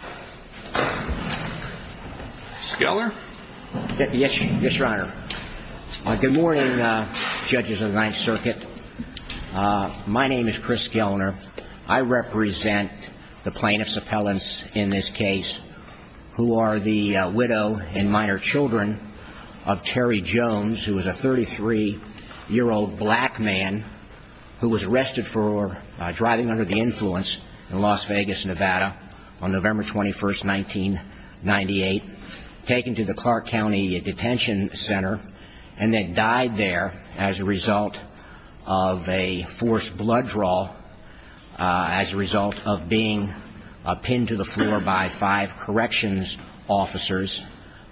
Good morning, judges of the Ninth Circuit. My name is Chris Gelner. I represent the plaintiffs' appellants in this case who are the widow and minor children of Terry Jones, who was a 33-year-old black man who was arrested for driving under the influence in Las Vegas, Nevada on November 21st, 1998, taken to the Clark County Detention Center, and then died there as a result of a forced blood draw, as a result of being pinned to the floor by five corrections officers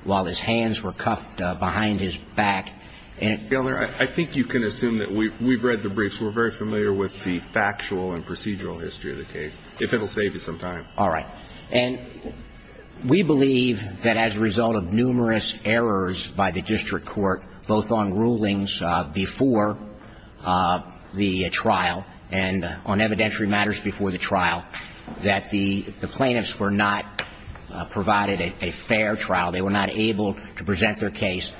while his hands were cuffed behind his back. And, Mr. Gelner, I think you can assume that we've read the briefs. We're very familiar with the factual and procedural history of the case, if it'll save you some time. All right. And we believe that as a result of numerous errors by the district court, both on rulings before the trial and on evidentiary matters before the trial, that the plaintiffs were not provided a fair trial. They were not able to present their case.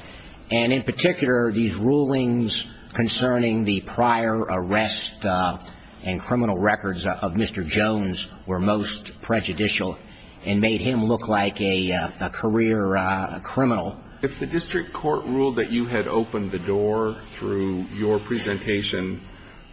And in particular, these rulings concerning the prior arrest and criminal records of Mr. Jones were most prejudicial and made him look like a career criminal. If the district court ruled that you had opened the door through your presentation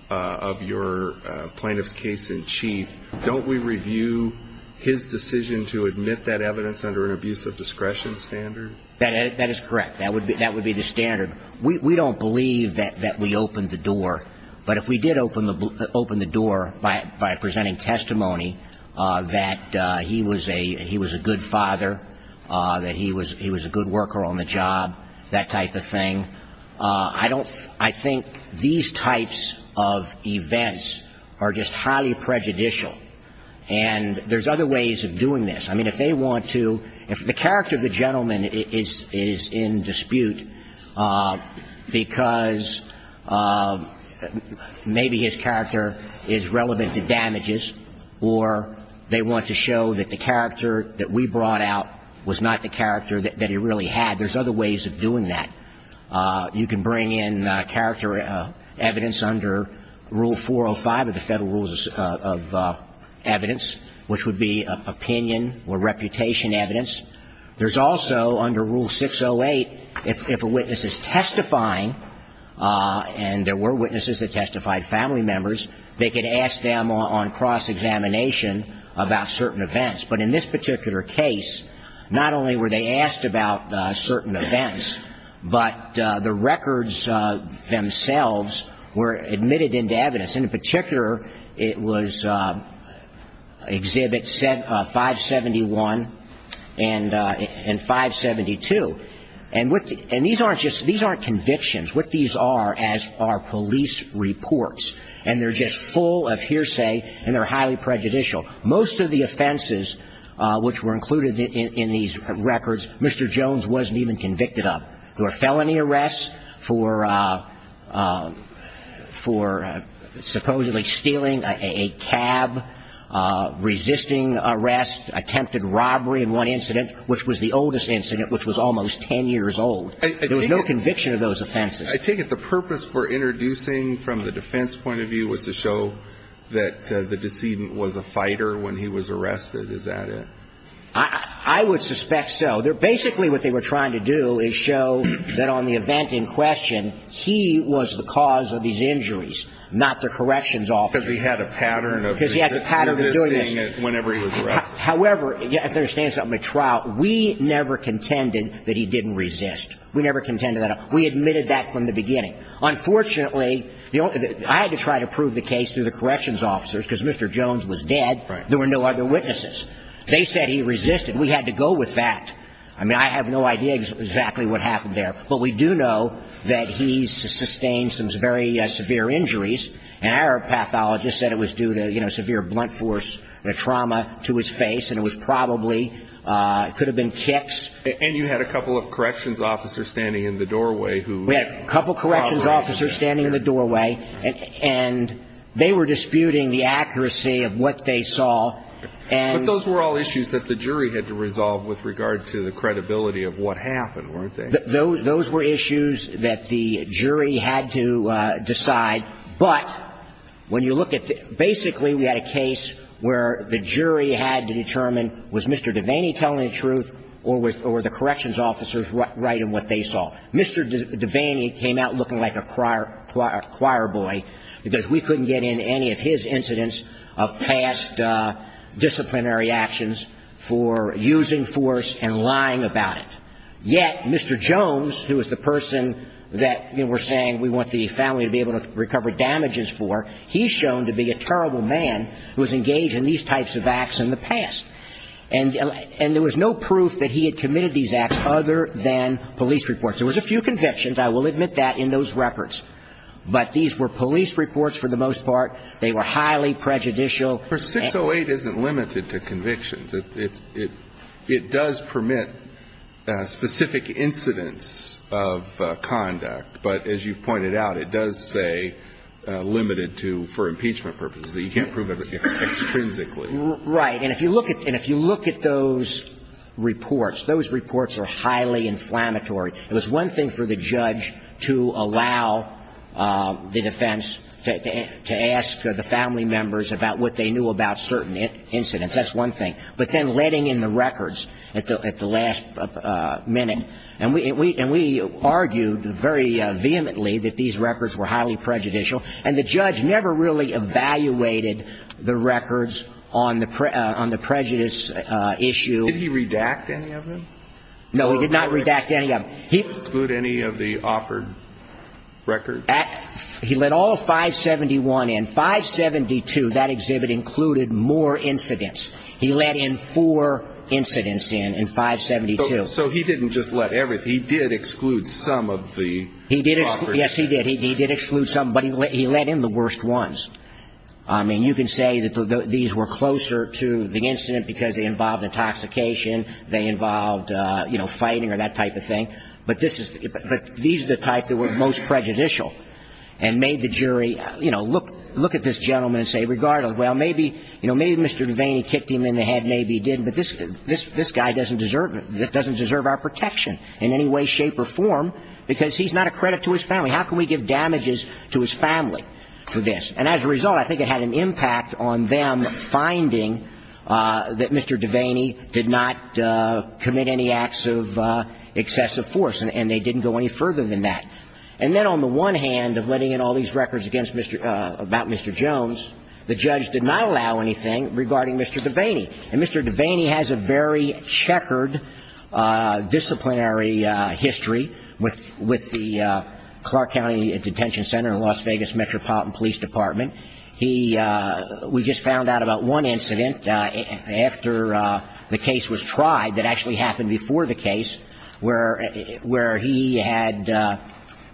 of your plaintiff's case-in-chief, don't we review his decision to admit that evidence under an abuse of discretion standard? That is correct. That would be the standard. We don't believe that we opened the door. But if we did open the door by presenting testimony that he was a good father, that he was a good worker on the job, that type of thing, I think these types of events are just highly prejudicial. And there's other ways of doing this. I mean, if they want to, if the character of the gentleman is in dispute because maybe his character is relevant to damages or they want to show that the character that we brought out was not the character that he really had, there's other ways of doing that. You can bring in character evidence under Rule 405 of the Federal Rules of Evidence, which would be opinion or reputation evidence. There's also, under Rule 608, if a witness is testifying, and there were witnesses that testified, family members, they could ask them on cross-examination about certain events. But in this particular case, not only were they asked about certain events, but the records themselves were admitted into evidence. And in particular, it was Exhibit 571 and 572. And these aren't convictions. What these are are police reports. And they're just full of hearsay, and they're highly prejudicial. Most of the offenses which were included in these records, Mr. Jones wasn't even convicted of. There were felony arrests for supposedly stealing a cab, resisting arrest, attempted robbery in one incident, which was the oldest incident, which was almost ten years old. There was no conviction of those offenses. I take it the purpose for introducing from the defense point of view was to show that the decedent was a fighter when he was arrested. Is that it? I would suspect so. Basically, what they were trying to do is show that on the event in question, he was the cause of these injuries, not the corrections officer. Because he had a pattern of resisting whenever he was arrested. However, if you understand something from the trial, we never contended that he didn't resist. We never contended that. We admitted that from the beginning. Unfortunately, I had to try to prove the case through the corrections officers, because Mr. Jones was resisting. We had to go with that. I have no idea exactly what happened there. But we do know that he sustained some very severe injuries. An Arab pathologist said it was due to severe blunt force trauma to his face. It could have been kicks. You had a couple of corrections officers standing in the doorway. We had a couple of corrections officers standing in the doorway. They were disputing the accuracy of what they saw. Those were all issues that the jury had to resolve with regard to the credibility of what happened, weren't they? Those were issues that the jury had to decide. But when you look at it, basically, we had a case where the jury had to determine, was Mr. Devaney telling the truth, or were the corrections officers right in what they saw? Mr. Devaney came out looking like a choir boy, because we couldn't get in any of his incidents of past disciplinary actions for using force and lying about it. Yet, Mr. Jones, who was the person that we're saying we want the family to be able to recover damages for, he's shown to be a terrible man who has engaged in these types of acts in the past. And there was no proof that he had committed these acts other than police reports. There was a few convictions, I will admit that, in those records. But these were police reports for the most part. They were highly prejudicial. But 608 isn't limited to convictions. It does permit specific incidents of conduct. But as you've pointed out, it does say limited to for impeachment purposes. You can't prove it extrinsically. Right. And if you look at those reports, those reports are highly inflammatory. It was one thing for the judge to allow the defense to ask the family members about what they knew about certain incidents. That's one thing. But then letting in the records at the last minute. And we argued very vehemently that these records were highly prejudicial. And the judge never really evaluated the records on the prejudice issue. Did he redact any of them? No, he did not redact any of them. He excluded any of the offered records? He let all 571 in. 572, that exhibit included more incidents. He let in four incidents in 572. So he didn't just let everything. He did exclude some of the... He did. Yes, he did. He did exclude some. But he let in the worst ones. I mean, you can say that these were closer to the incident because they involved intoxication. They involved, you know, fighting or that type of thing. But these are the types that were most prejudicial. And made the jury, you know, look at this gentleman and say, regardless, well, maybe Mr. Devaney kicked him in the head, maybe he did. But this guy doesn't deserve our protection in any way, shape or form because he's not a credit to his family. How can we give damages to his family for this? And as a result, I think it had an impact on them finding that Mr. Devaney did not commit any acts of excessive force. And they didn't go any further than that. And then on the one hand of letting in all these records against Mr... About Mr. Jones, the judge did not allow anything regarding Mr. Devaney. And Mr. Devaney has a very checkered disciplinary history with the Clark County Detention Center in Las Vegas Metropolitan Police Department. He... We just found out about one incident after the case was tried that actually happened before the case where he had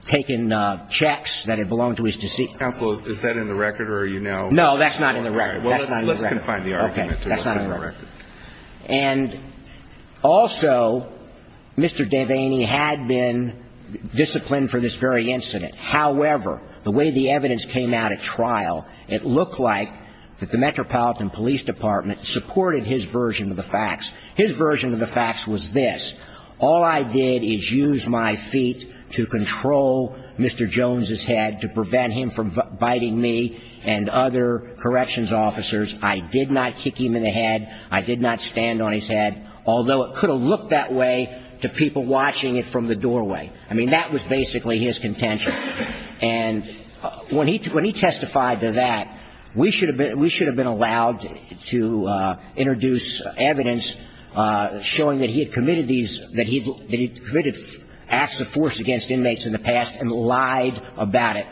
taken checks that had belonged to his deceased... Counsel, is that in the record or are you now... No, that's not in the record. Well, let's confine the argument to what's in the record. And also, Mr. Devaney had been disciplined for this very incident. However, the way the evidence came out at trial, it looked like that the Metropolitan Police Department supported his version of the facts. His version of the facts was this. All I did is use my feet to control Mr. Jones's head to prevent him from biting me and other corrections officers. I did not kick him in the head. I did not stand on his head. Although it could have looked that way to people watching it from the doorway. I mean, that was basically his contention. And when he testified to that, we should have been allowed to introduce evidence showing that he had committed these... That he committed acts of force against inmates in the past and lied about it.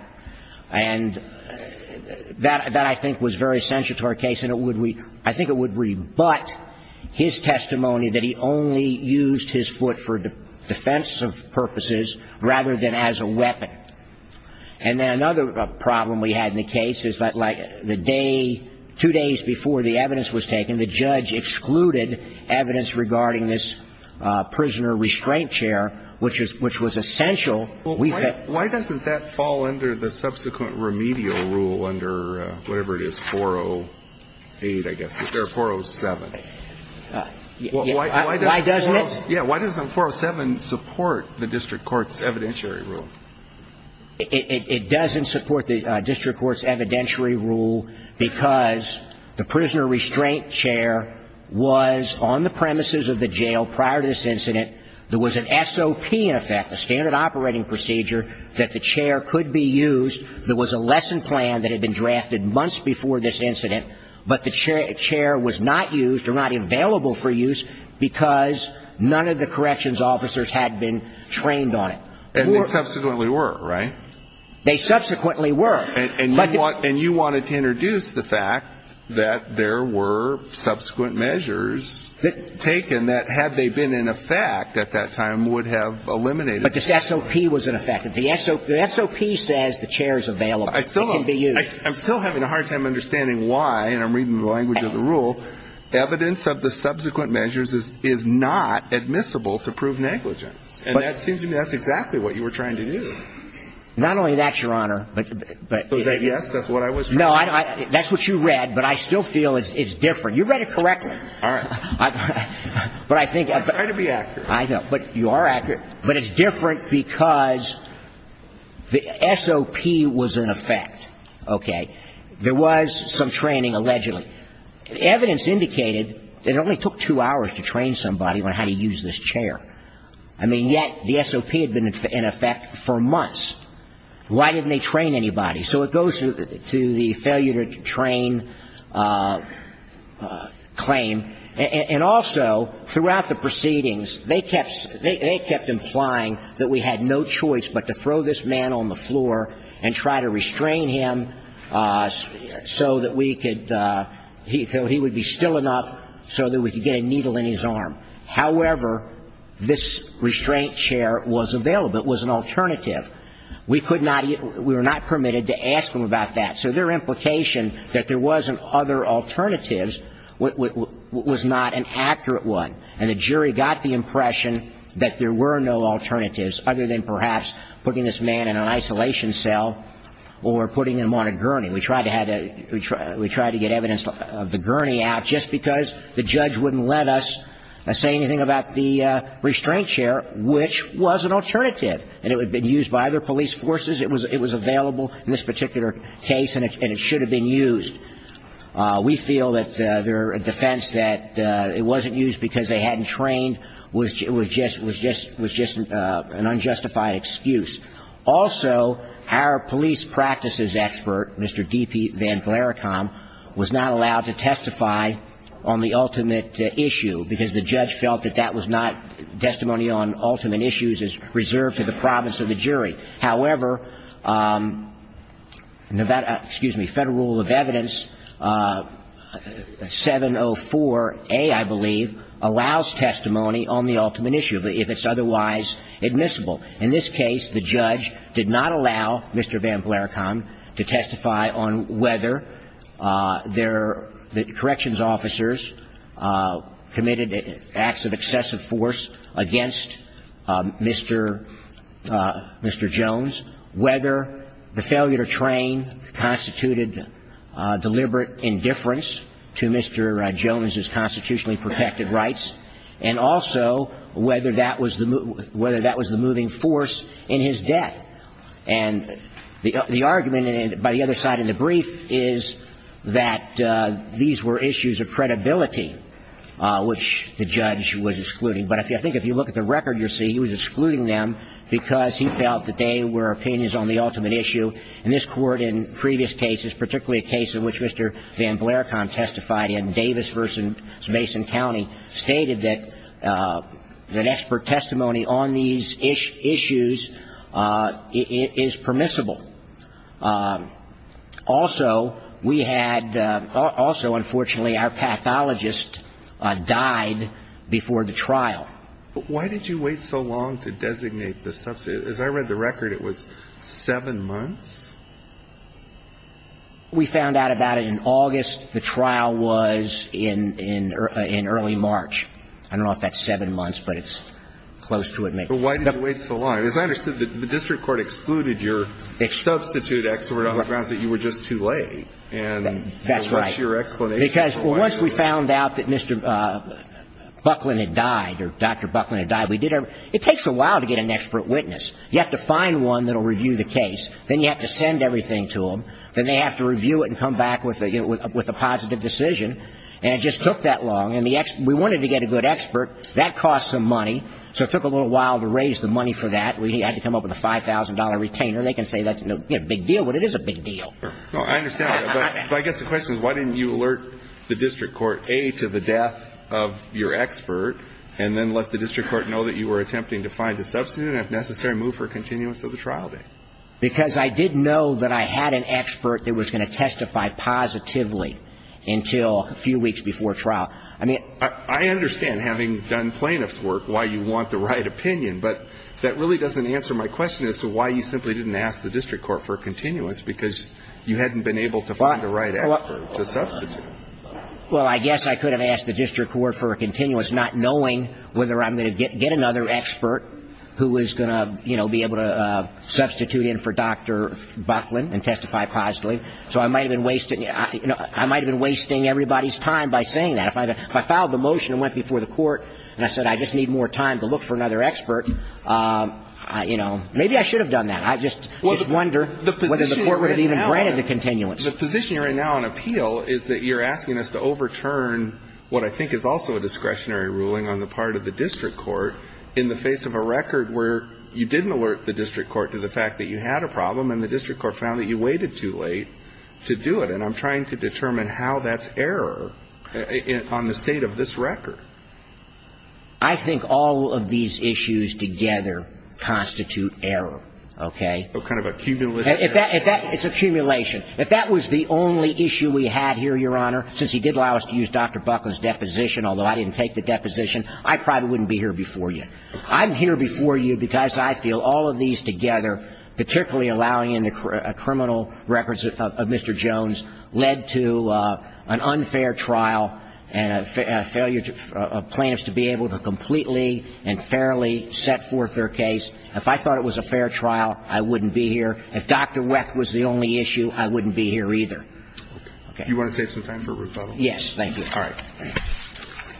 And that, I think, was very essential to our case. And I think it would rebut his testimony that he only used his foot for defensive purposes rather than as a weapon. And then another problem we had in the case is that, like, the day, two days before the evidence was taken, the judge excluded evidence regarding this prisoner restraint chair, which was essential. Well, why doesn't that fall under the subsequent remedial rule under whatever it is, 408, I guess. Is there a 407? Why doesn't it? Yeah, why doesn't 407 support the district court's evidentiary rule? It doesn't support the district court's evidentiary rule because the prisoner restraint chair was on the premises of the jail prior to this incident. There was an SOP, in effect, a standard operating procedure that the chair could be used. There was a lesson plan that had been drafted months before this incident, but the chair was not used or not available for use because none of the corrections officers had been trained on it. And they subsequently were, right? They subsequently were. And you wanted to introduce the fact that there were subsequent measures taken that, had they been in effect at that time, would have eliminated it. But this SOP was in effect. If the SOP says the chair is available, it can be used. I'm still having a hard time understanding why, and I'm reading the language of the rule, evidence of the subsequent measures is not admissible to prove negligence. And that seems to me that's exactly what you were trying to do. Not only that, Your Honor, but... Was that yes? That's what I was... No, that's what you read, but I still feel it's different. You read it correctly. All right. But I think... I try to be accurate. I know, but you are accurate. But it's different because the SOP was in effect, okay? There was some training, allegedly. Evidence indicated that it only took two hours to train somebody on how to use this chair. I mean, yet the SOP had been in effect for months. Why didn't they train anybody? So it goes to the failure to train claim. And also, throughout the proceedings, they kept implying that we had no choice but to throw this man on the floor and try to restrain him so that we could... So he would be still enough so that we could get a needle in his arm. However, this restraint chair was available. It was an alternative. We could not... We were not permitted to ask them about that. So their implication that there wasn't other alternatives was not an accurate one. And the jury got the impression that there were no alternatives other than perhaps putting this man in an isolation cell or putting him on a gurney. We tried to get evidence of the gurney out just because the judge wouldn't let us. I say anything about the restraint chair, which was an alternative, and it had been used by other police forces. It was available in this particular case, and it should have been used. We feel that their defense that it wasn't used because they hadn't trained was just an unjustified excuse. Also, our police practices expert, Mr. D.P. Van Vlerakam, was not allowed to testify on the ultimate issue because the judge felt that that was not... Testimony on ultimate issues is reserved for the province of the jury. However, Nevada... Excuse me, Federal Rule of Evidence 704A, I believe, allows testimony on the ultimate issue if it's otherwise admissible. In this case, the judge did not allow Mr. Van Vlerakam to testify on whether the corrections officers committed acts of excessive force against Mr. Jones, whether the failure to train constituted deliberate indifference to Mr. Jones's constitutionally protected rights, and also whether that was the moving force in his death. And the argument by the other side in the brief is that these were issues of credibility, which the judge was excluding. But I think if you look at the record, you'll see he was excluding them because he felt that they were opinions on the ultimate issue. In this court, in previous cases, particularly a case in which Mr. Van Vlerakam testified in Davis versus Mason County, stated that expert testimony on these issues is permissible. Also, we had... Also, unfortunately, our pathologist died before the trial. Why did you wait so long to designate the... As I read the record, it was seven months? We found out about it in August. The trial was in early March. I don't know if that's seven months, but it's close to it. But why did you wait so long? As I understood, the district court excluded your substituted expert on the grounds that you were just too late. That's right. And what's your explanation for why? Because once we found out that Mr. Buckland had died or Dr. Buckland had died, we did our... It takes a while to get an expert witness. You have to find one that will review the case. Then you have to send everything to them. Then they have to review it and come back with a positive decision. And it just took that long. And we wanted to get a good expert. That costs some money. So it took a little while to raise the money for that. We had to come up with a $5,000 retainer. They can say that's a big deal, but it is a big deal. Well, I understand that. But I guess the question is, why didn't you alert the district court, A, to the death of your expert, and then let the district court know that you were attempting to find a substitute and, if necessary, move for a continuance of the trial date? Because I did know that I had an expert that was going to testify positively until a few weeks before trial. I understand, having done plaintiff's work, why you want the right opinion. But that really doesn't answer my question as to why you simply didn't ask the district court for a continuance, because you hadn't been able to find the right expert to substitute. Well, I guess I could have asked the district court for a continuance, not knowing whether I'm going to get another expert who is going to be able to substitute in for Dr. Buckland and testify positively. So I might have been wasting everybody's time by saying that. If I filed the motion and went before the court and I said, I just need more time to look for another expert, maybe I should have done that. I just wonder whether the court would have even granted the continuance. The position right now on appeal is that you're asking us to overturn what I think is also discretionary ruling on the part of the district court in the face of a record where you didn't alert the district court to the fact that you had a problem, and the district court found that you waited too late to do it. And I'm trying to determine how that's error on the state of this record. I think all of these issues together constitute error, okay? Kind of a cumulative error. It's accumulation. If that was the only issue we had here, Your Honor, since he did allow us to use Dr. Buckland's deposition, although I didn't take the deposition, I probably wouldn't be here before you. I'm here before you because I feel all of these together, particularly allowing in the criminal records of Mr. Jones, led to an unfair trial and a failure of plaintiffs to be able to completely and fairly set forth their case. If I thought it was a fair trial, I wouldn't be here. If Dr. Weck was the only issue, I wouldn't be here either, okay? You want to save some time for rebuttal? Yes, thank you. All right.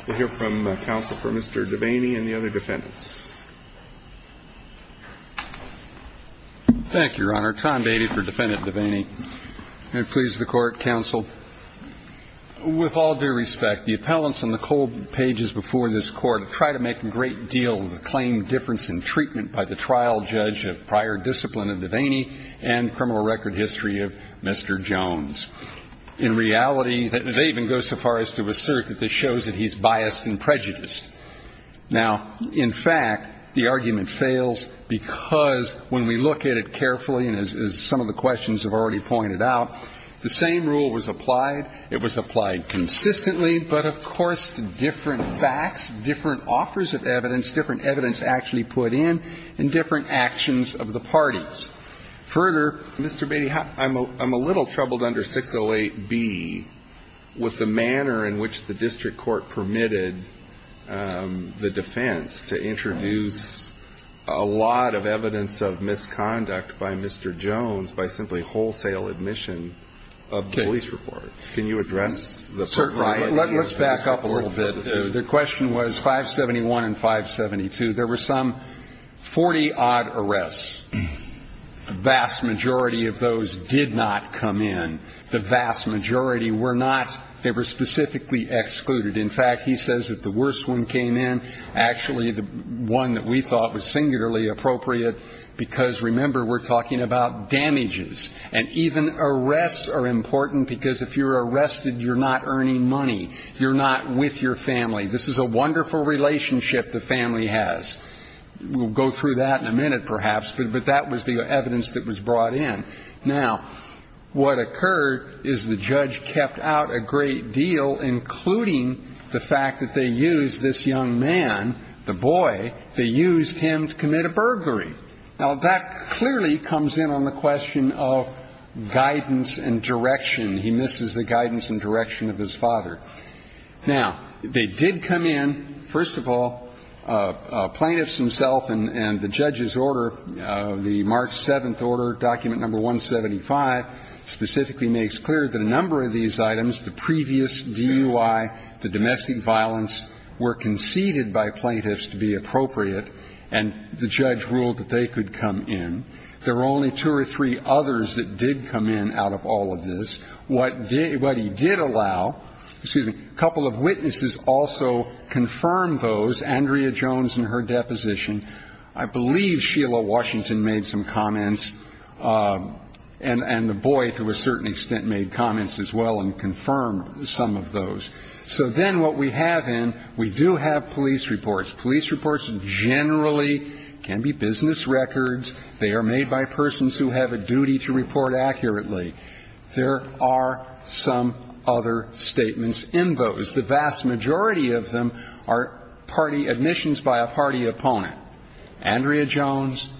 We'll hear from counsel for Mr. Devaney and the other defendants. Thank you, Your Honor. Tom Beatty for Defendant Devaney. And please, the Court, counsel, with all due respect, the appellants on the cold pages before this Court have tried to make a great deal of the claim difference in treatment by the trial judge of prior discipline of Devaney and criminal record history of Mr. Jones. In reality, they even go so far as to assert that this shows that he's biased and prejudiced. Now, in fact, the argument fails because when we look at it carefully, and as some of the questions have already pointed out, the same rule was applied. It was applied consistently, but, of course, different facts, different offers of evidence, different evidence actually put in, and different actions of the parties. Further, Mr. Beatty, I'm a little troubled under 608B with the manner in which the district court permitted the defense to introduce a lot of evidence of misconduct by Mr. Jones by simply wholesale admission of police reports. Can you address the program? Let's back up a little bit. The question was 571 and 572. There were some 40-odd arrests. The vast majority of those did not come in. The vast majority were not. They were specifically excluded. In fact, he says that the worst one came in. Actually, the one that we thought was singularly appropriate because, remember, we're talking about damages. And even arrests are important because if you're arrested, you're not earning money. You're not with your family. This is a wonderful relationship the family has. We'll go through that in a minute, perhaps, but that was the evidence that was brought in. Now, what occurred is the judge kept out a great deal, including the fact that they used this young man, the boy, they used him to commit a burglary. Now, that clearly comes in on the question of guidance and direction. He misses the guidance and direction of his father. Now, they did come in, first of all, plaintiffs themselves and the judge's order, the March 7th order, document number 175, specifically makes clear that a number of these items, the previous DUI, the domestic violence, were conceded by plaintiffs to be appropriate, and the judge ruled that they could come in. There were only two or three others that did come in out of all of this. What he did allow, excuse me, a couple of witnesses also confirmed those, Andrea Jones in her deposition. I believe Sheila Washington made some comments, and the boy, to a certain extent, made comments as well and confirmed some of those. So then what we have in, we do have police reports. Police reports generally can be business records. They are made by persons who have a duty to report accurately. There are some other statements in those. The vast majority of them are party admissions by a party opponent. Andrea Jones,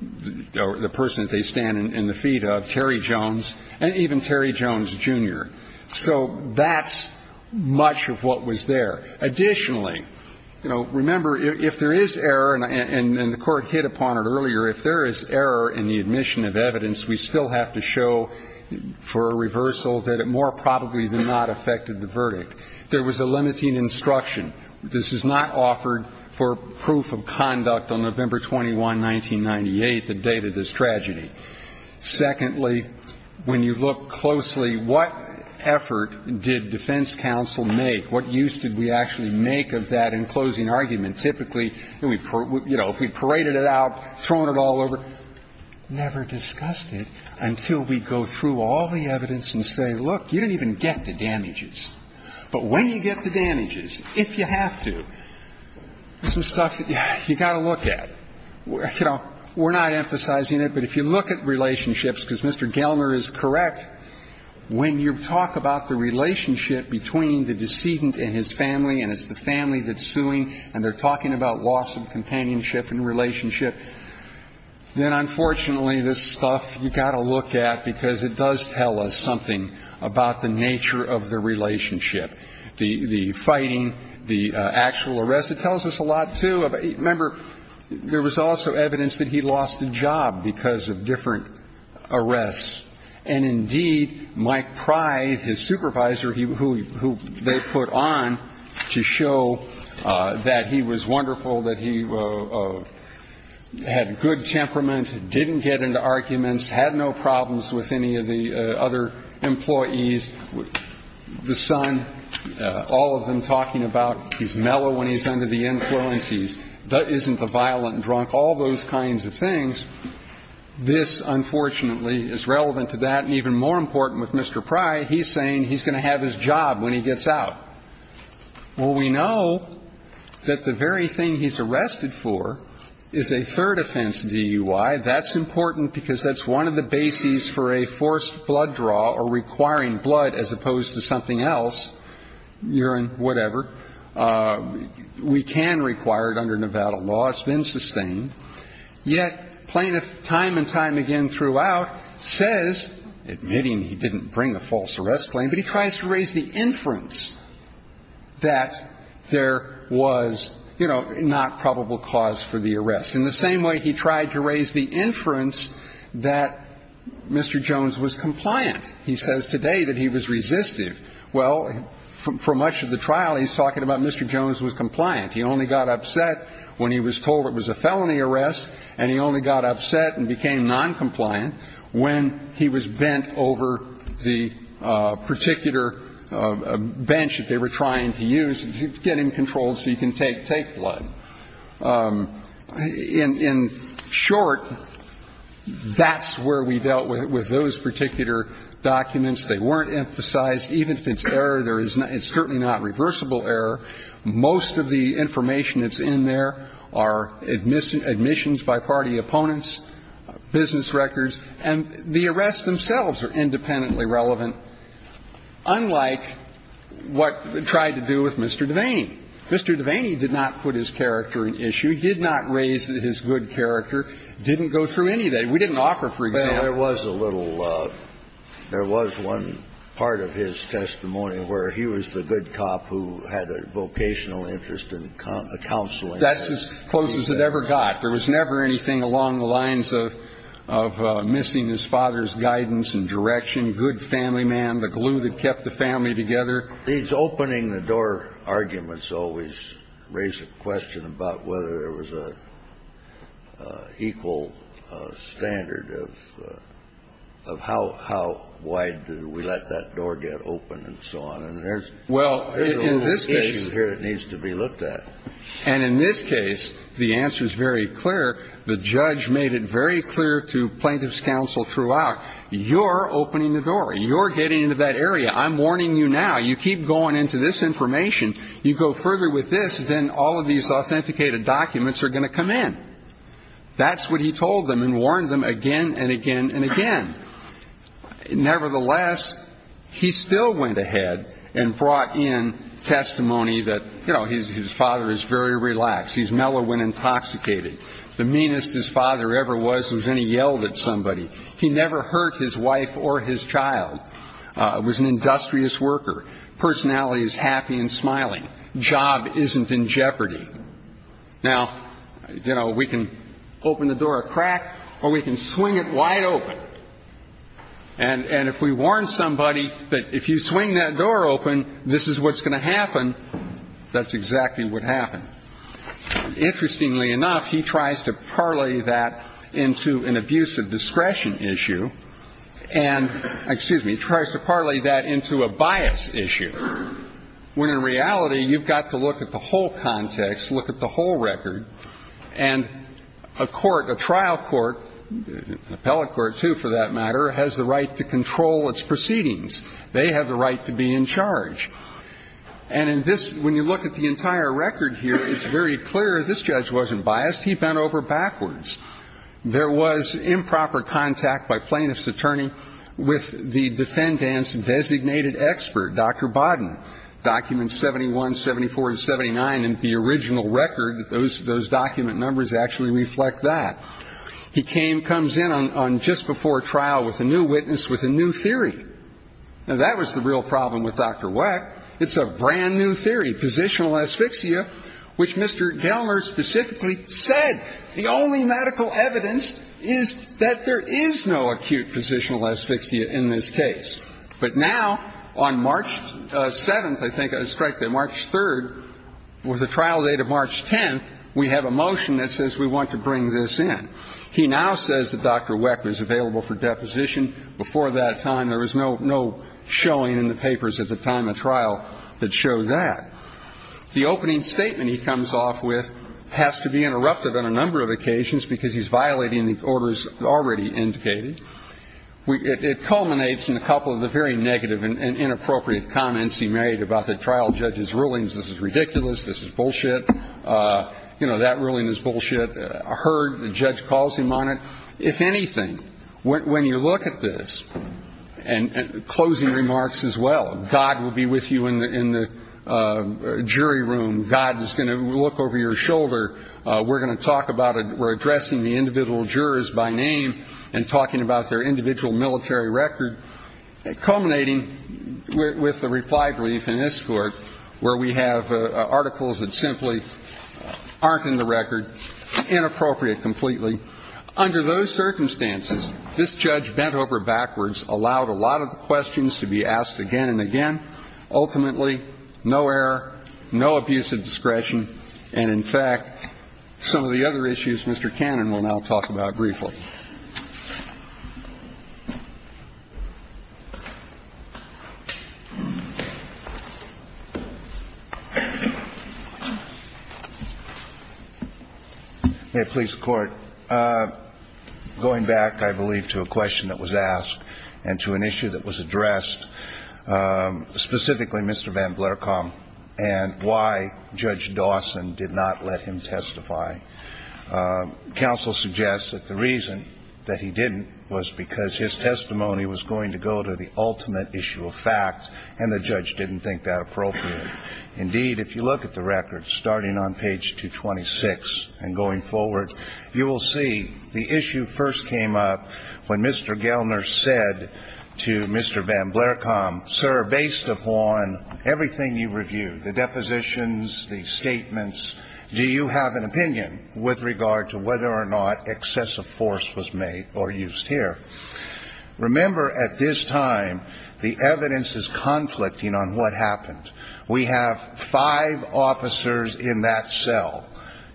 the person that they stand in the feet of, Terry Jones, and even Terry Jones, Jr. So that's much of what was there. Additionally, you know, remember, if there is error, and the Court hit upon it earlier, if there is error in the admission of evidence, we still have to show for a reversal that it more probably than not affected the verdict. There was a limiting instruction. This is not offered for proof of conduct on November 21, 1998, the date of this tragedy. Secondly, when you look closely, what effort did defense counsel make? What use did we actually make of that in closing argument? And typically, you know, if we paraded it out, thrown it all over, never discussed it until we go through all the evidence and say, look, you didn't even get the damages. But when you get the damages, if you have to, this is stuff that you've got to look at. You know, we're not emphasizing it, but if you look at relationships, because Mr. Gelner is correct, when you talk about the relationship between the decedent and his family, and it's the family that's suing, and they're talking about loss of companionship and relationship, then unfortunately, this stuff, you've got to look at, because it does tell us something about the nature of the relationship, the fighting, the actual arrest. It tells us a lot, too. Remember, there was also evidence that he lost a job because of different arrests. And indeed, Mike Pry, his supervisor, who they put on to show that he was wonderful, that he had good temperament, didn't get into arguments, had no problems with any of the other employees, the son, all of them talking about he's mellow when he's under the influence, he isn't a violent drunk, all those kinds of things. This, unfortunately, is relevant to that, and even more important with Mr. Pry, he's saying he's going to have his job when he gets out. Well, we know that the very thing he's arrested for is a third offense DUI. That's important because that's one of the bases for a forced blood draw or requiring blood as opposed to something else, urine, whatever, we can require it under Nevada law. It's been sustained. Yet, plaintiff time and time again throughout says, admitting he didn't bring a false arrest claim, but he tries to raise the inference that there was, you know, not probable cause for the arrest, in the same way he tried to raise the inference that Mr. Jones was compliant. He says today that he was resistive. Well, for much of the trial, he's talking about Mr. Jones was compliant. And Mr. Jones is not going to be compliant. So, I think it's important to remember that, when he was put on the arrest, and he only got upset and became noncompliant when he was bent over the particular bench that they were trying to use to get him controlled so he can take blood. In short, that's where we dealt with those particular documents. They weren't emphasized. Even if it's error, it's certainly not reversible error. Most of the information that's in there are admissions by party opponents, business records, and the arrests themselves are independently relevant, unlike what tried to do with Mr. Devaney. Mr. Devaney did not put his character in issue, did not raise his good character, didn't go through any of that. We didn't offer, for example ---- Well, there was a little ---- there was one part of his testimony where he was the good cop who had a vocational interest in counseling. That's as close as it ever got. There was never anything along the lines of missing his father's guidance and direction, good family man, the glue that kept the family together. These opening the door arguments always raise a question about whether there was an equal standard of how wide do we let that door get open and so on. And there's a whole issue here that needs to be looked at. And in this case, the answer is very clear. The judge made it very clear to plaintiff's counsel throughout, you're opening the door. You're getting into that area. I'm warning you now. You keep going into this information. You go further with this, then all of these authenticated documents are going to come in. That's what he told them and warned them again and again and again. Nevertheless, he still went ahead and brought in testimony that, you know, his father is very relaxed. He's mellow when intoxicated. The meanest his father ever was was when he yelled at somebody. He never hurt his wife or his child. Was an industrious worker. Personality is happy and smiling. Job isn't in jeopardy. Now, you know, we can open the door a crack or we can swing it wide open. And if we warn somebody that if you swing that door open, this is what's going to happen, that's exactly what happened. Interestingly enough, he tries to parlay that into an abuse of discretion issue. And, excuse me, he tries to parlay that into a bias issue. When in reality, you've got to look at the whole context, look at the whole record. And a court, a trial court, an appellate court, too, for that matter, has the right to control its proceedings. They have the right to be in charge. And in this, when you look at the entire record here, it's very clear this judge wasn't biased. He bent over backwards. There was improper contact by plaintiff's attorney with the defendant's designated expert, Dr. Bodden. Documents 71, 74, and 79 in the original record, those document numbers actually reflect that. He came, comes in on just before trial with a new witness with a new theory. Now, that was the real problem with Dr. Weck. It's a brand-new theory, positional asphyxia, which Mr. Gelmer specifically said, the only medical evidence is that there is no acute positional asphyxia in this case. But now, on March 7th, I think I was correct there, March 3rd, with a trial date of March 10th, we have a motion that says we want to bring this in. He now says that Dr. Weck was available for deposition before that time. There was no showing in the papers at the time of trial that showed that. The opening statement he comes off with has to be interrupted on a number of occasions because he's violating the orders already indicated. It culminates in a couple of the very negative and inappropriate comments he made about the trial judge's rulings. This is ridiculous. This is bullshit. You know, that ruling is bullshit. I heard the judge calls him on it. If anything, when you look at this, and closing remarks as well, God will be with you in the jury room. God is going to look over your shoulder. We're going to talk about it. We're addressing the individual jurors by name and talking about their individual military record, culminating with the reply brief in this court where we have articles that simply aren't in the record, inappropriate completely. Under those circumstances, this judge bent over backwards, allowed a lot of the questions to be asked again and again. Ultimately, no error, no abuse of discretion. And, in fact, some of the other issues Mr. Cannon will now talk about briefly. May it please the Court. Going back, I believe, to a question that was asked and to an issue that was addressed, specifically Mr. Van Blerkamp and why Judge Dawson did not let him testify. Counsel suggests that the reason that he didn't was because his testimony was going to go to the ultimate issue of fact and the judge didn't think that appropriate. Indeed, if you look at the record, starting on page 226 and going forward, you will see the issue first came up when Mr. Gelner said to Mr. Van Blerkamp, Sir, based upon everything you reviewed, the depositions, the statements, do you have an opinion with regard to whether or not excessive force was made or used here? Remember, at this time, the evidence is conflicting on what happened. We have five officers in that cell,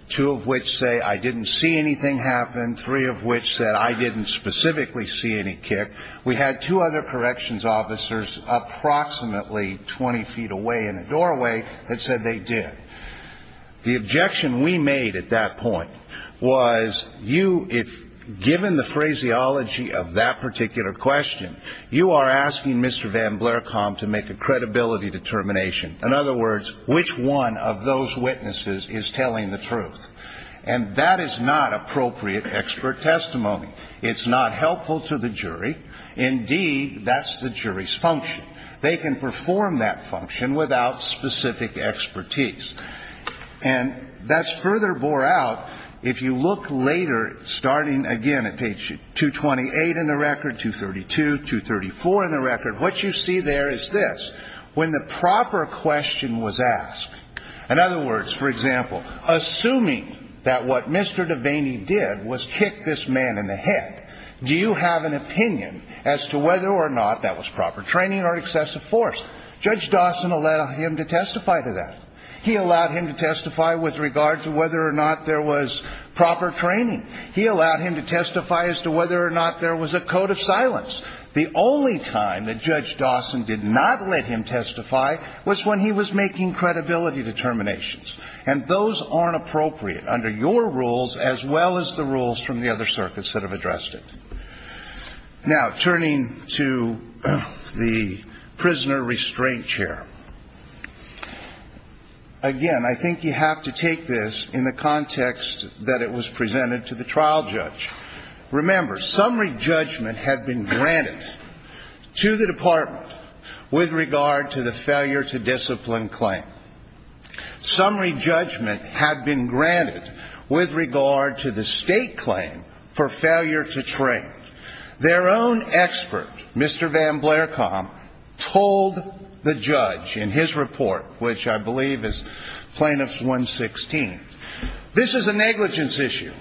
two of which say I didn't see anything happen, three of which said I didn't specifically see any kick. We had two other corrections officers approximately 20 feet away in the doorway that said they did. The objection we made at that point was you, if given the phraseology of that particular question, you are asking Mr. Van Blerkamp to make a credibility determination. In other words, which one of those witnesses is telling the truth? And that is not appropriate expert testimony. It's not helpful to the jury. Indeed, that's the jury's function. They can perform that function without specific expertise. And that's further bore out if you look later, starting again at page 228 in the record, 232, 234 in the record. What you see there is this. When the proper question was asked, in other words, for example, assuming that what Mr. Devaney did was kick this man in the head, do you have an opinion as to whether or not that was proper training or excessive force? Judge Dawson allowed him to testify to that. He allowed him to testify with regard to whether or not there was proper training. He allowed him to testify as to whether or not there was a code of silence. The only time that Judge Dawson did not let him testify was when he was making credibility determinations. And those aren't appropriate under your rules as well as the rules from the other circuits that have addressed it. Now, turning to the prisoner restraint chair, again, I think you have to take this in the context that it was presented to the trial judge. Remember, summary judgment had been granted to the department with regard to the failure to discipline claim. Summary judgment had been granted with regard to the state claim for failure to train. Their own expert, Mr. Van Blerkamp, told the judge in his report, which I believe is Plaintiffs 116, this is a negligence issue.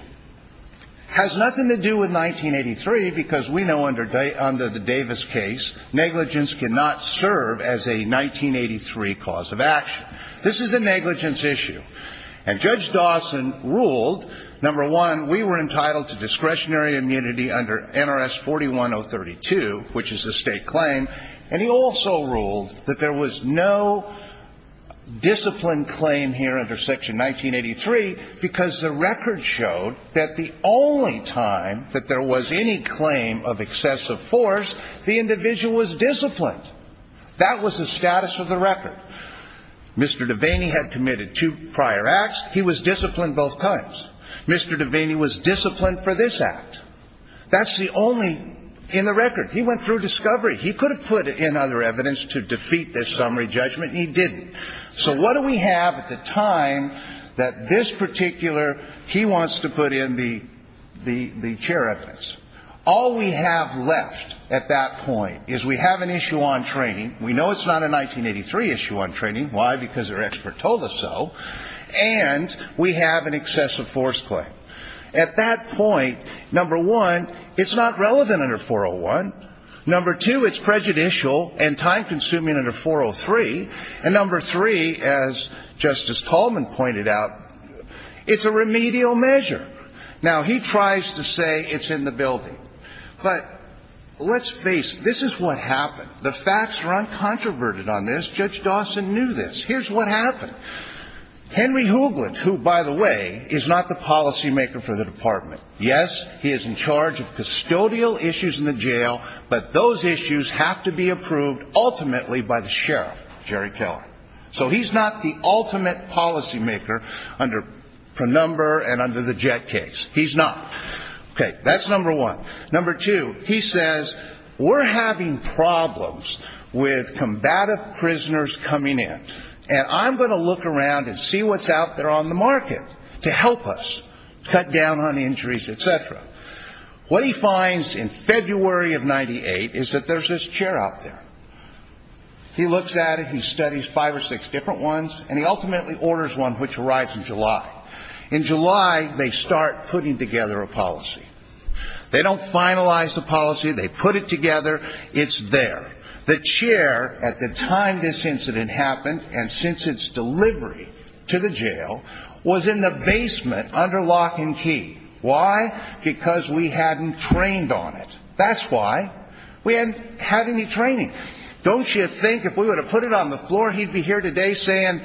Has nothing to do with 1983 because we know under the Davis case, negligence cannot serve as a 1983 cause of action. This is a negligence issue. And Judge Dawson ruled, number one, we were entitled to discretionary immunity under NRS 41032, which is the state claim. And he also ruled that there was no discipline claim here under Section 1983 because the record showed that the only time that there was any claim of excessive force, the individual was disciplined. That was the status of the record. Mr. Devaney had committed two prior acts. He was disciplined both times. Mr. Devaney was disciplined for this act. That's the only in the record. He went through discovery. He could have put in other evidence to defeat this summary judgment. He didn't. So what do we have at the time that this particular he wants to put in the chair evidence? All we have left at that point is we have an issue on training. We know it's not a 1983 issue on training. Why? Because their expert told us so. And we have an excessive force claim. At that point, number one, it's not relevant under 401. Number two, it's prejudicial and time-consuming under 403. And number three, as Justice Tallman pointed out, it's a remedial measure. Now, he tries to say it's in the building. But let's face it. This is what happened. The facts are uncontroverted on this. Judge Dawson knew this. Here's what happened. Henry Hoogland, who, by the way, is not the policymaker for the department, yes, he is in charge of custodial issues in the jail. But those issues have to be approved ultimately by the sheriff, Jerry Keller. So he's not the ultimate policymaker under Purnumber and under the Jett case. He's not. Okay. That's number one. Number two, he says we're having problems with combative prisoners coming in. And I'm going to look around and see what's out there on the market to help us cut down on injuries, et cetera. What he finds in February of 98 is that there's this chair out there. He looks at it. He studies five or six different ones. And he ultimately orders one, which arrives in July. In July, they start putting together a policy. They don't finalize the policy. They put it together. It's there. The chair, at the time this incident happened and since its delivery to the jail, was in the basement under lock and key. Why? Because we hadn't trained on it. That's why. We hadn't had any training. Don't you think if we would have put it on the floor, he'd be here today saying,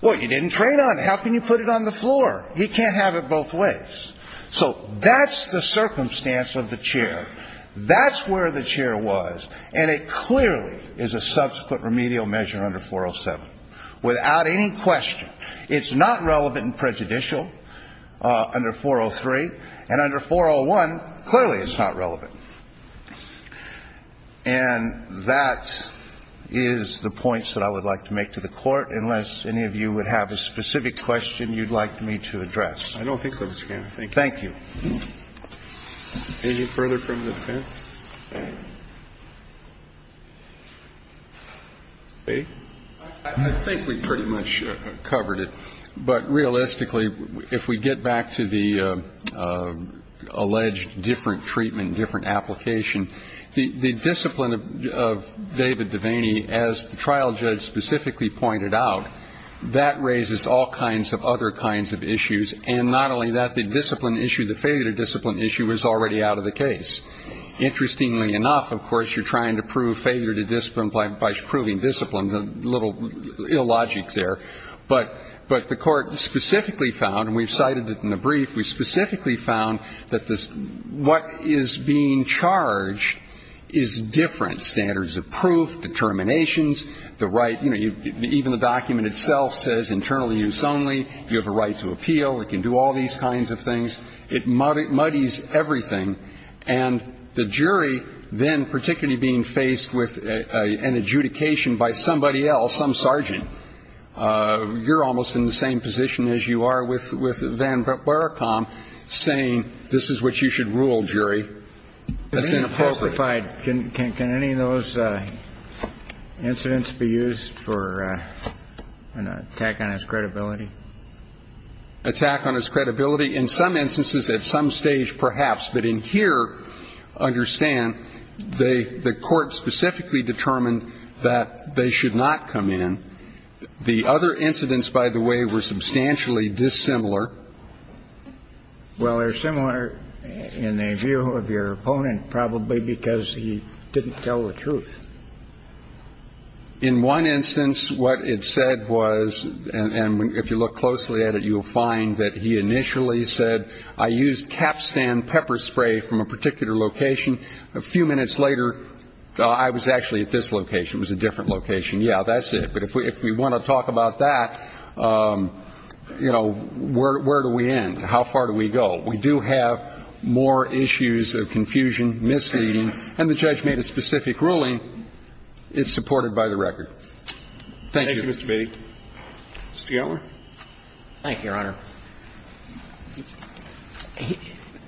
well, you didn't train on it. How can you put it on the floor? He can't have it both ways. So that's the circumstance of the chair. That's where the chair was. And it clearly is a subsequent remedial measure under 407 without any question. It's not relevant and prejudicial under 403. And under 401, clearly it's not relevant. And that is the points that I would like to make to the Court, unless any of you would have a specific question you'd like me to address. I don't think so, Mr. Kennedy. Thank you. Any further from the defense? I think we pretty much covered it. But realistically, if we get back to the alleged different treatment, different application, the discipline of David Devaney, as the trial judge specifically pointed out, that raises all kinds of other kinds of issues. And not only that, the discipline issue, the failure to discipline issue is already out of the case. Interestingly enough, of course, you're trying to prove failure to discipline by proving discipline. A little illogic there. But the Court specifically found, and we've cited it in the brief, we specifically found that what is being charged is different standards of proof, determinations, the right. You know, even the document itself says internally use only. You have a right to appeal. It can do all these kinds of things. It muddies everything. And the jury then, particularly being faced with an adjudication by somebody else, some sergeant, you're almost in the same position as you are with Van Burekam saying this is what you should rule, jury. That's inappropriate. Can any of those incidents be used for an attack on his credibility? Attack on his credibility? In some instances, at some stage, perhaps. But in here, understand, the Court specifically determined that they should not come in. The other incidents, by the way, were substantially dissimilar. Well, they're similar in the view of your opponent, probably because he didn't tell the truth. In one instance, what it said was, and if you look closely at it, you'll find that he initially said, I used capstan pepper spray from a particular location. A few minutes later, I was actually at this location. It was a different location. Yeah, that's it. But if we want to talk about that, you know, where do we end? How far do we go? Well, we do have more issues of confusion, misleading, and the judge made a specific ruling. It's supported by the record. Thank you. Thank you, Mr. Beatty. Mr. Gellar. Thank you, Your Honor.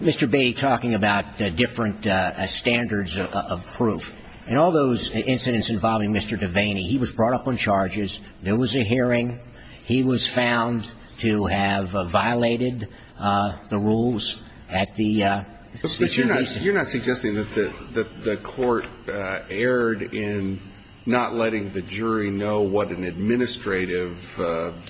Mr. Beatty talking about different standards of proof. In all those incidents involving Mr. Devaney, he was brought up on charges. There was a hearing. He was found to have violated the rules at the situation. You're not suggesting that the court erred in not letting the jury know what an administrative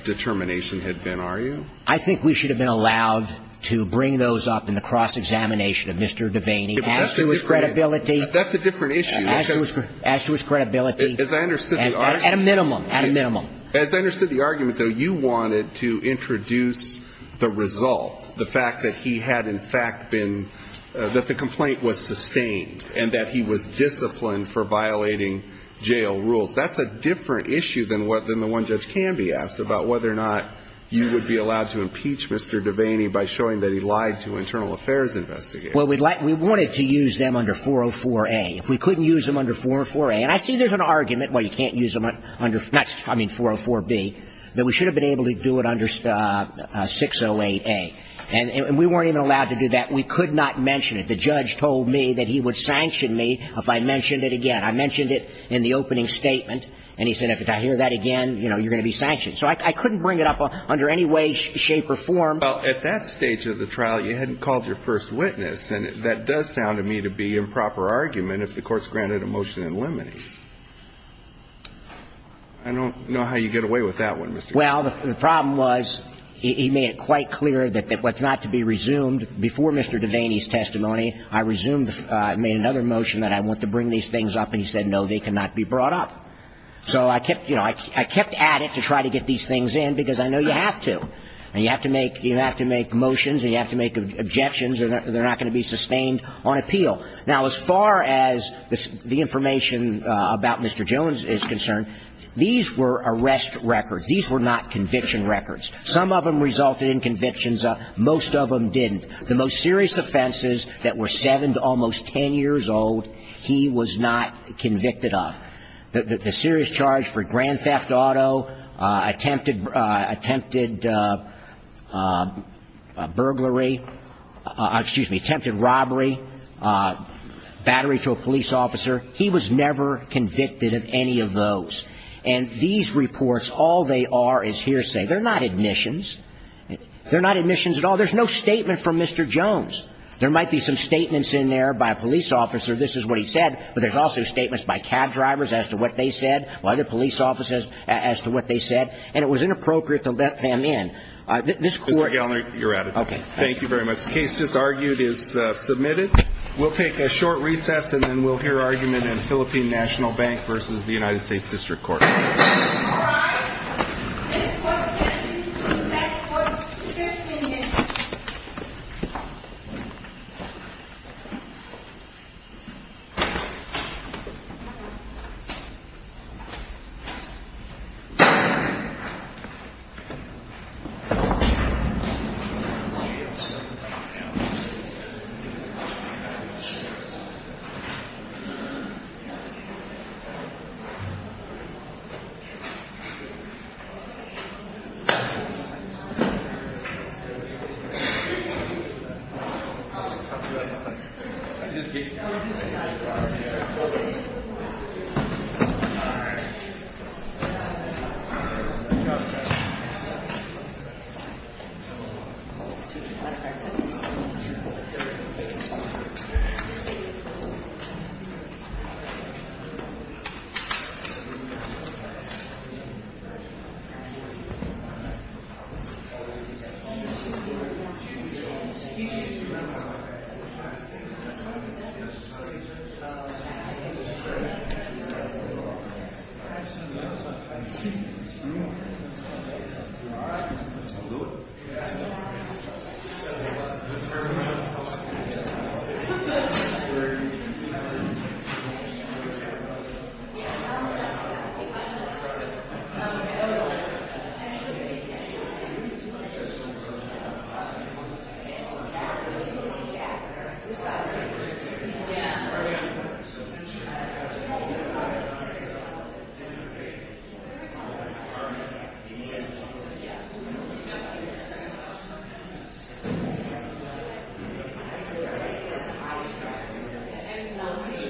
determination had been, are you? I think we should have been allowed to bring those up in the cross-examination of Mr. Devaney as to his credibility. That's a different issue. As to his credibility. As I understood the argument. At a minimum. At a minimum. As I understood the argument, though, you wanted to introduce the result, the fact that he had in fact been, that the complaint was sustained and that he was disciplined for violating jail rules. That's a different issue than the one judge can be asked about whether or not you would be allowed to impeach Mr. Devaney by showing that he lied to an internal affairs investigator. Well, we wanted to use them under 404A. If we couldn't use them under 404A. And I see there's an argument, well, you can't use them under, I mean, 404B, that we should have been able to do it under 608A. And we weren't even allowed to do that. We could not mention it. The judge told me that he would sanction me if I mentioned it again. I mentioned it in the opening statement. And he said if I hear that again, you know, you're going to be sanctioned. So I couldn't bring it up under any way, shape or form. Well, at that stage of the trial, you hadn't called your first witness. And that does sound to me to be improper argument if the Court's granted a motion in limine. I don't know how you get away with that one, Mr. Carvin. Well, the problem was he made it quite clear that it was not to be resumed. Before Mr. Devaney's testimony, I resumed, made another motion that I want to bring these things up. And he said, no, they cannot be brought up. So I kept, you know, I kept at it to try to get these things in because I know you have to. And you have to make motions and you have to make objections. They're not going to be sustained on appeal. Now, as far as the information about Mr. Jones is concerned, these were arrest records. These were not conviction records. Some of them resulted in convictions. Most of them didn't. The most serious offenses that were seven to almost ten years old, he was not convicted of. The serious charge for grand theft auto, attempted burglary, excuse me, attempted robbery, battery to a police officer, he was never convicted of any of those. And these reports, all they are is hearsay. They're not admissions. They're not admissions at all. There's no statement from Mr. Jones. There might be some statements in there by a police officer, this is what he said, but there's also statements by cab drivers as to what they said, by the police officers as to what they said. And it was inappropriate to let them in. This court ‑‑ Mr. Galliner, you're out of time. Okay. Thank you very much. The case just argued is submitted. We'll take a short recess and then we'll hear argument in Philippine National Bank versus the United States District Court. All rise. This court will continue to the next court in 15 minutes.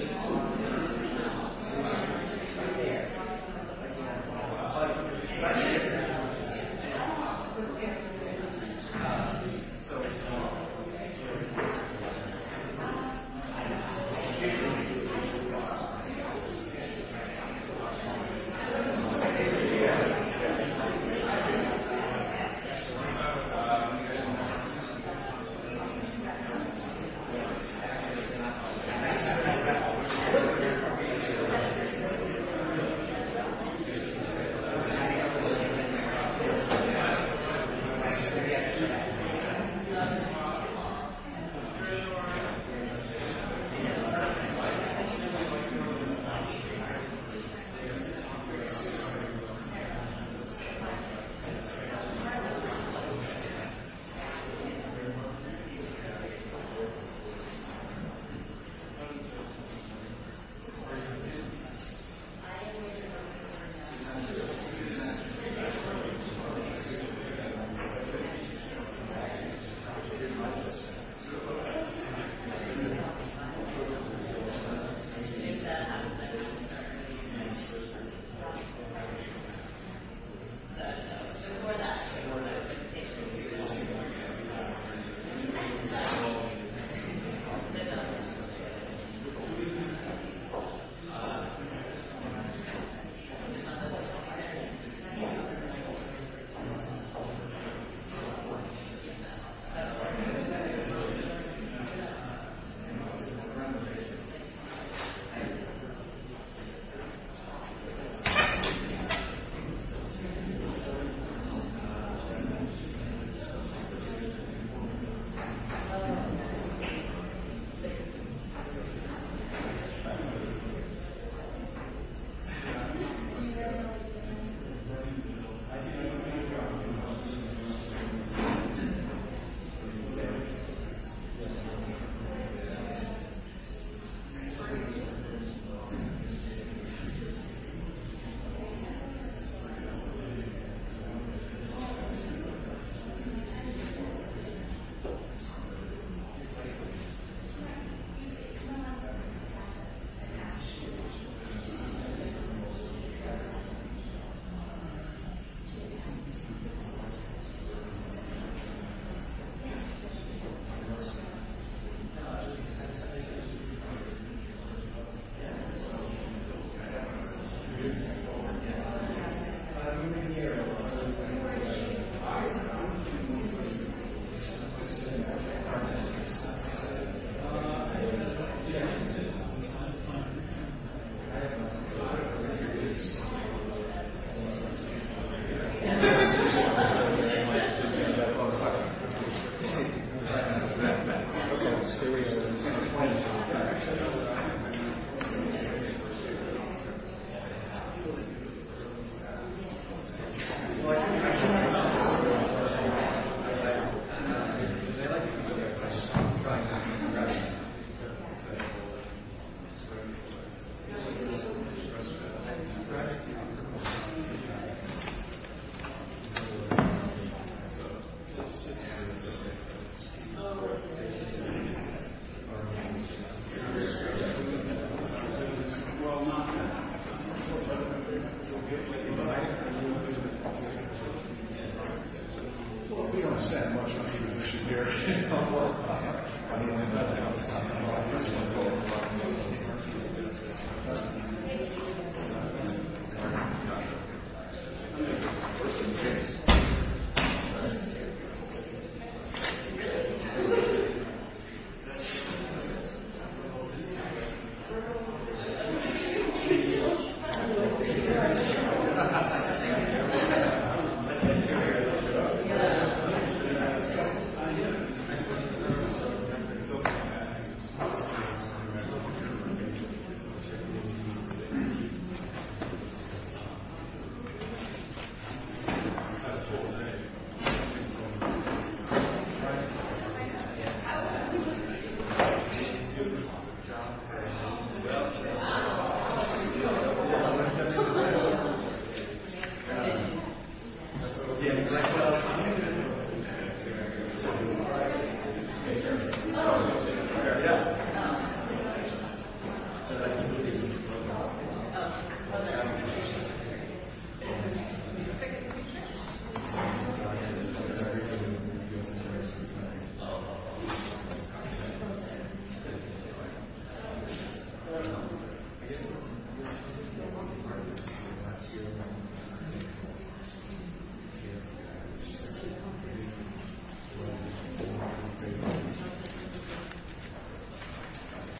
Thank you. Thank you. Thank you. Thank you. Thank you. Thank you. Thank you. Thank you. Thank you. Thank you. Thank you. Thank you. Thank you. Thank you.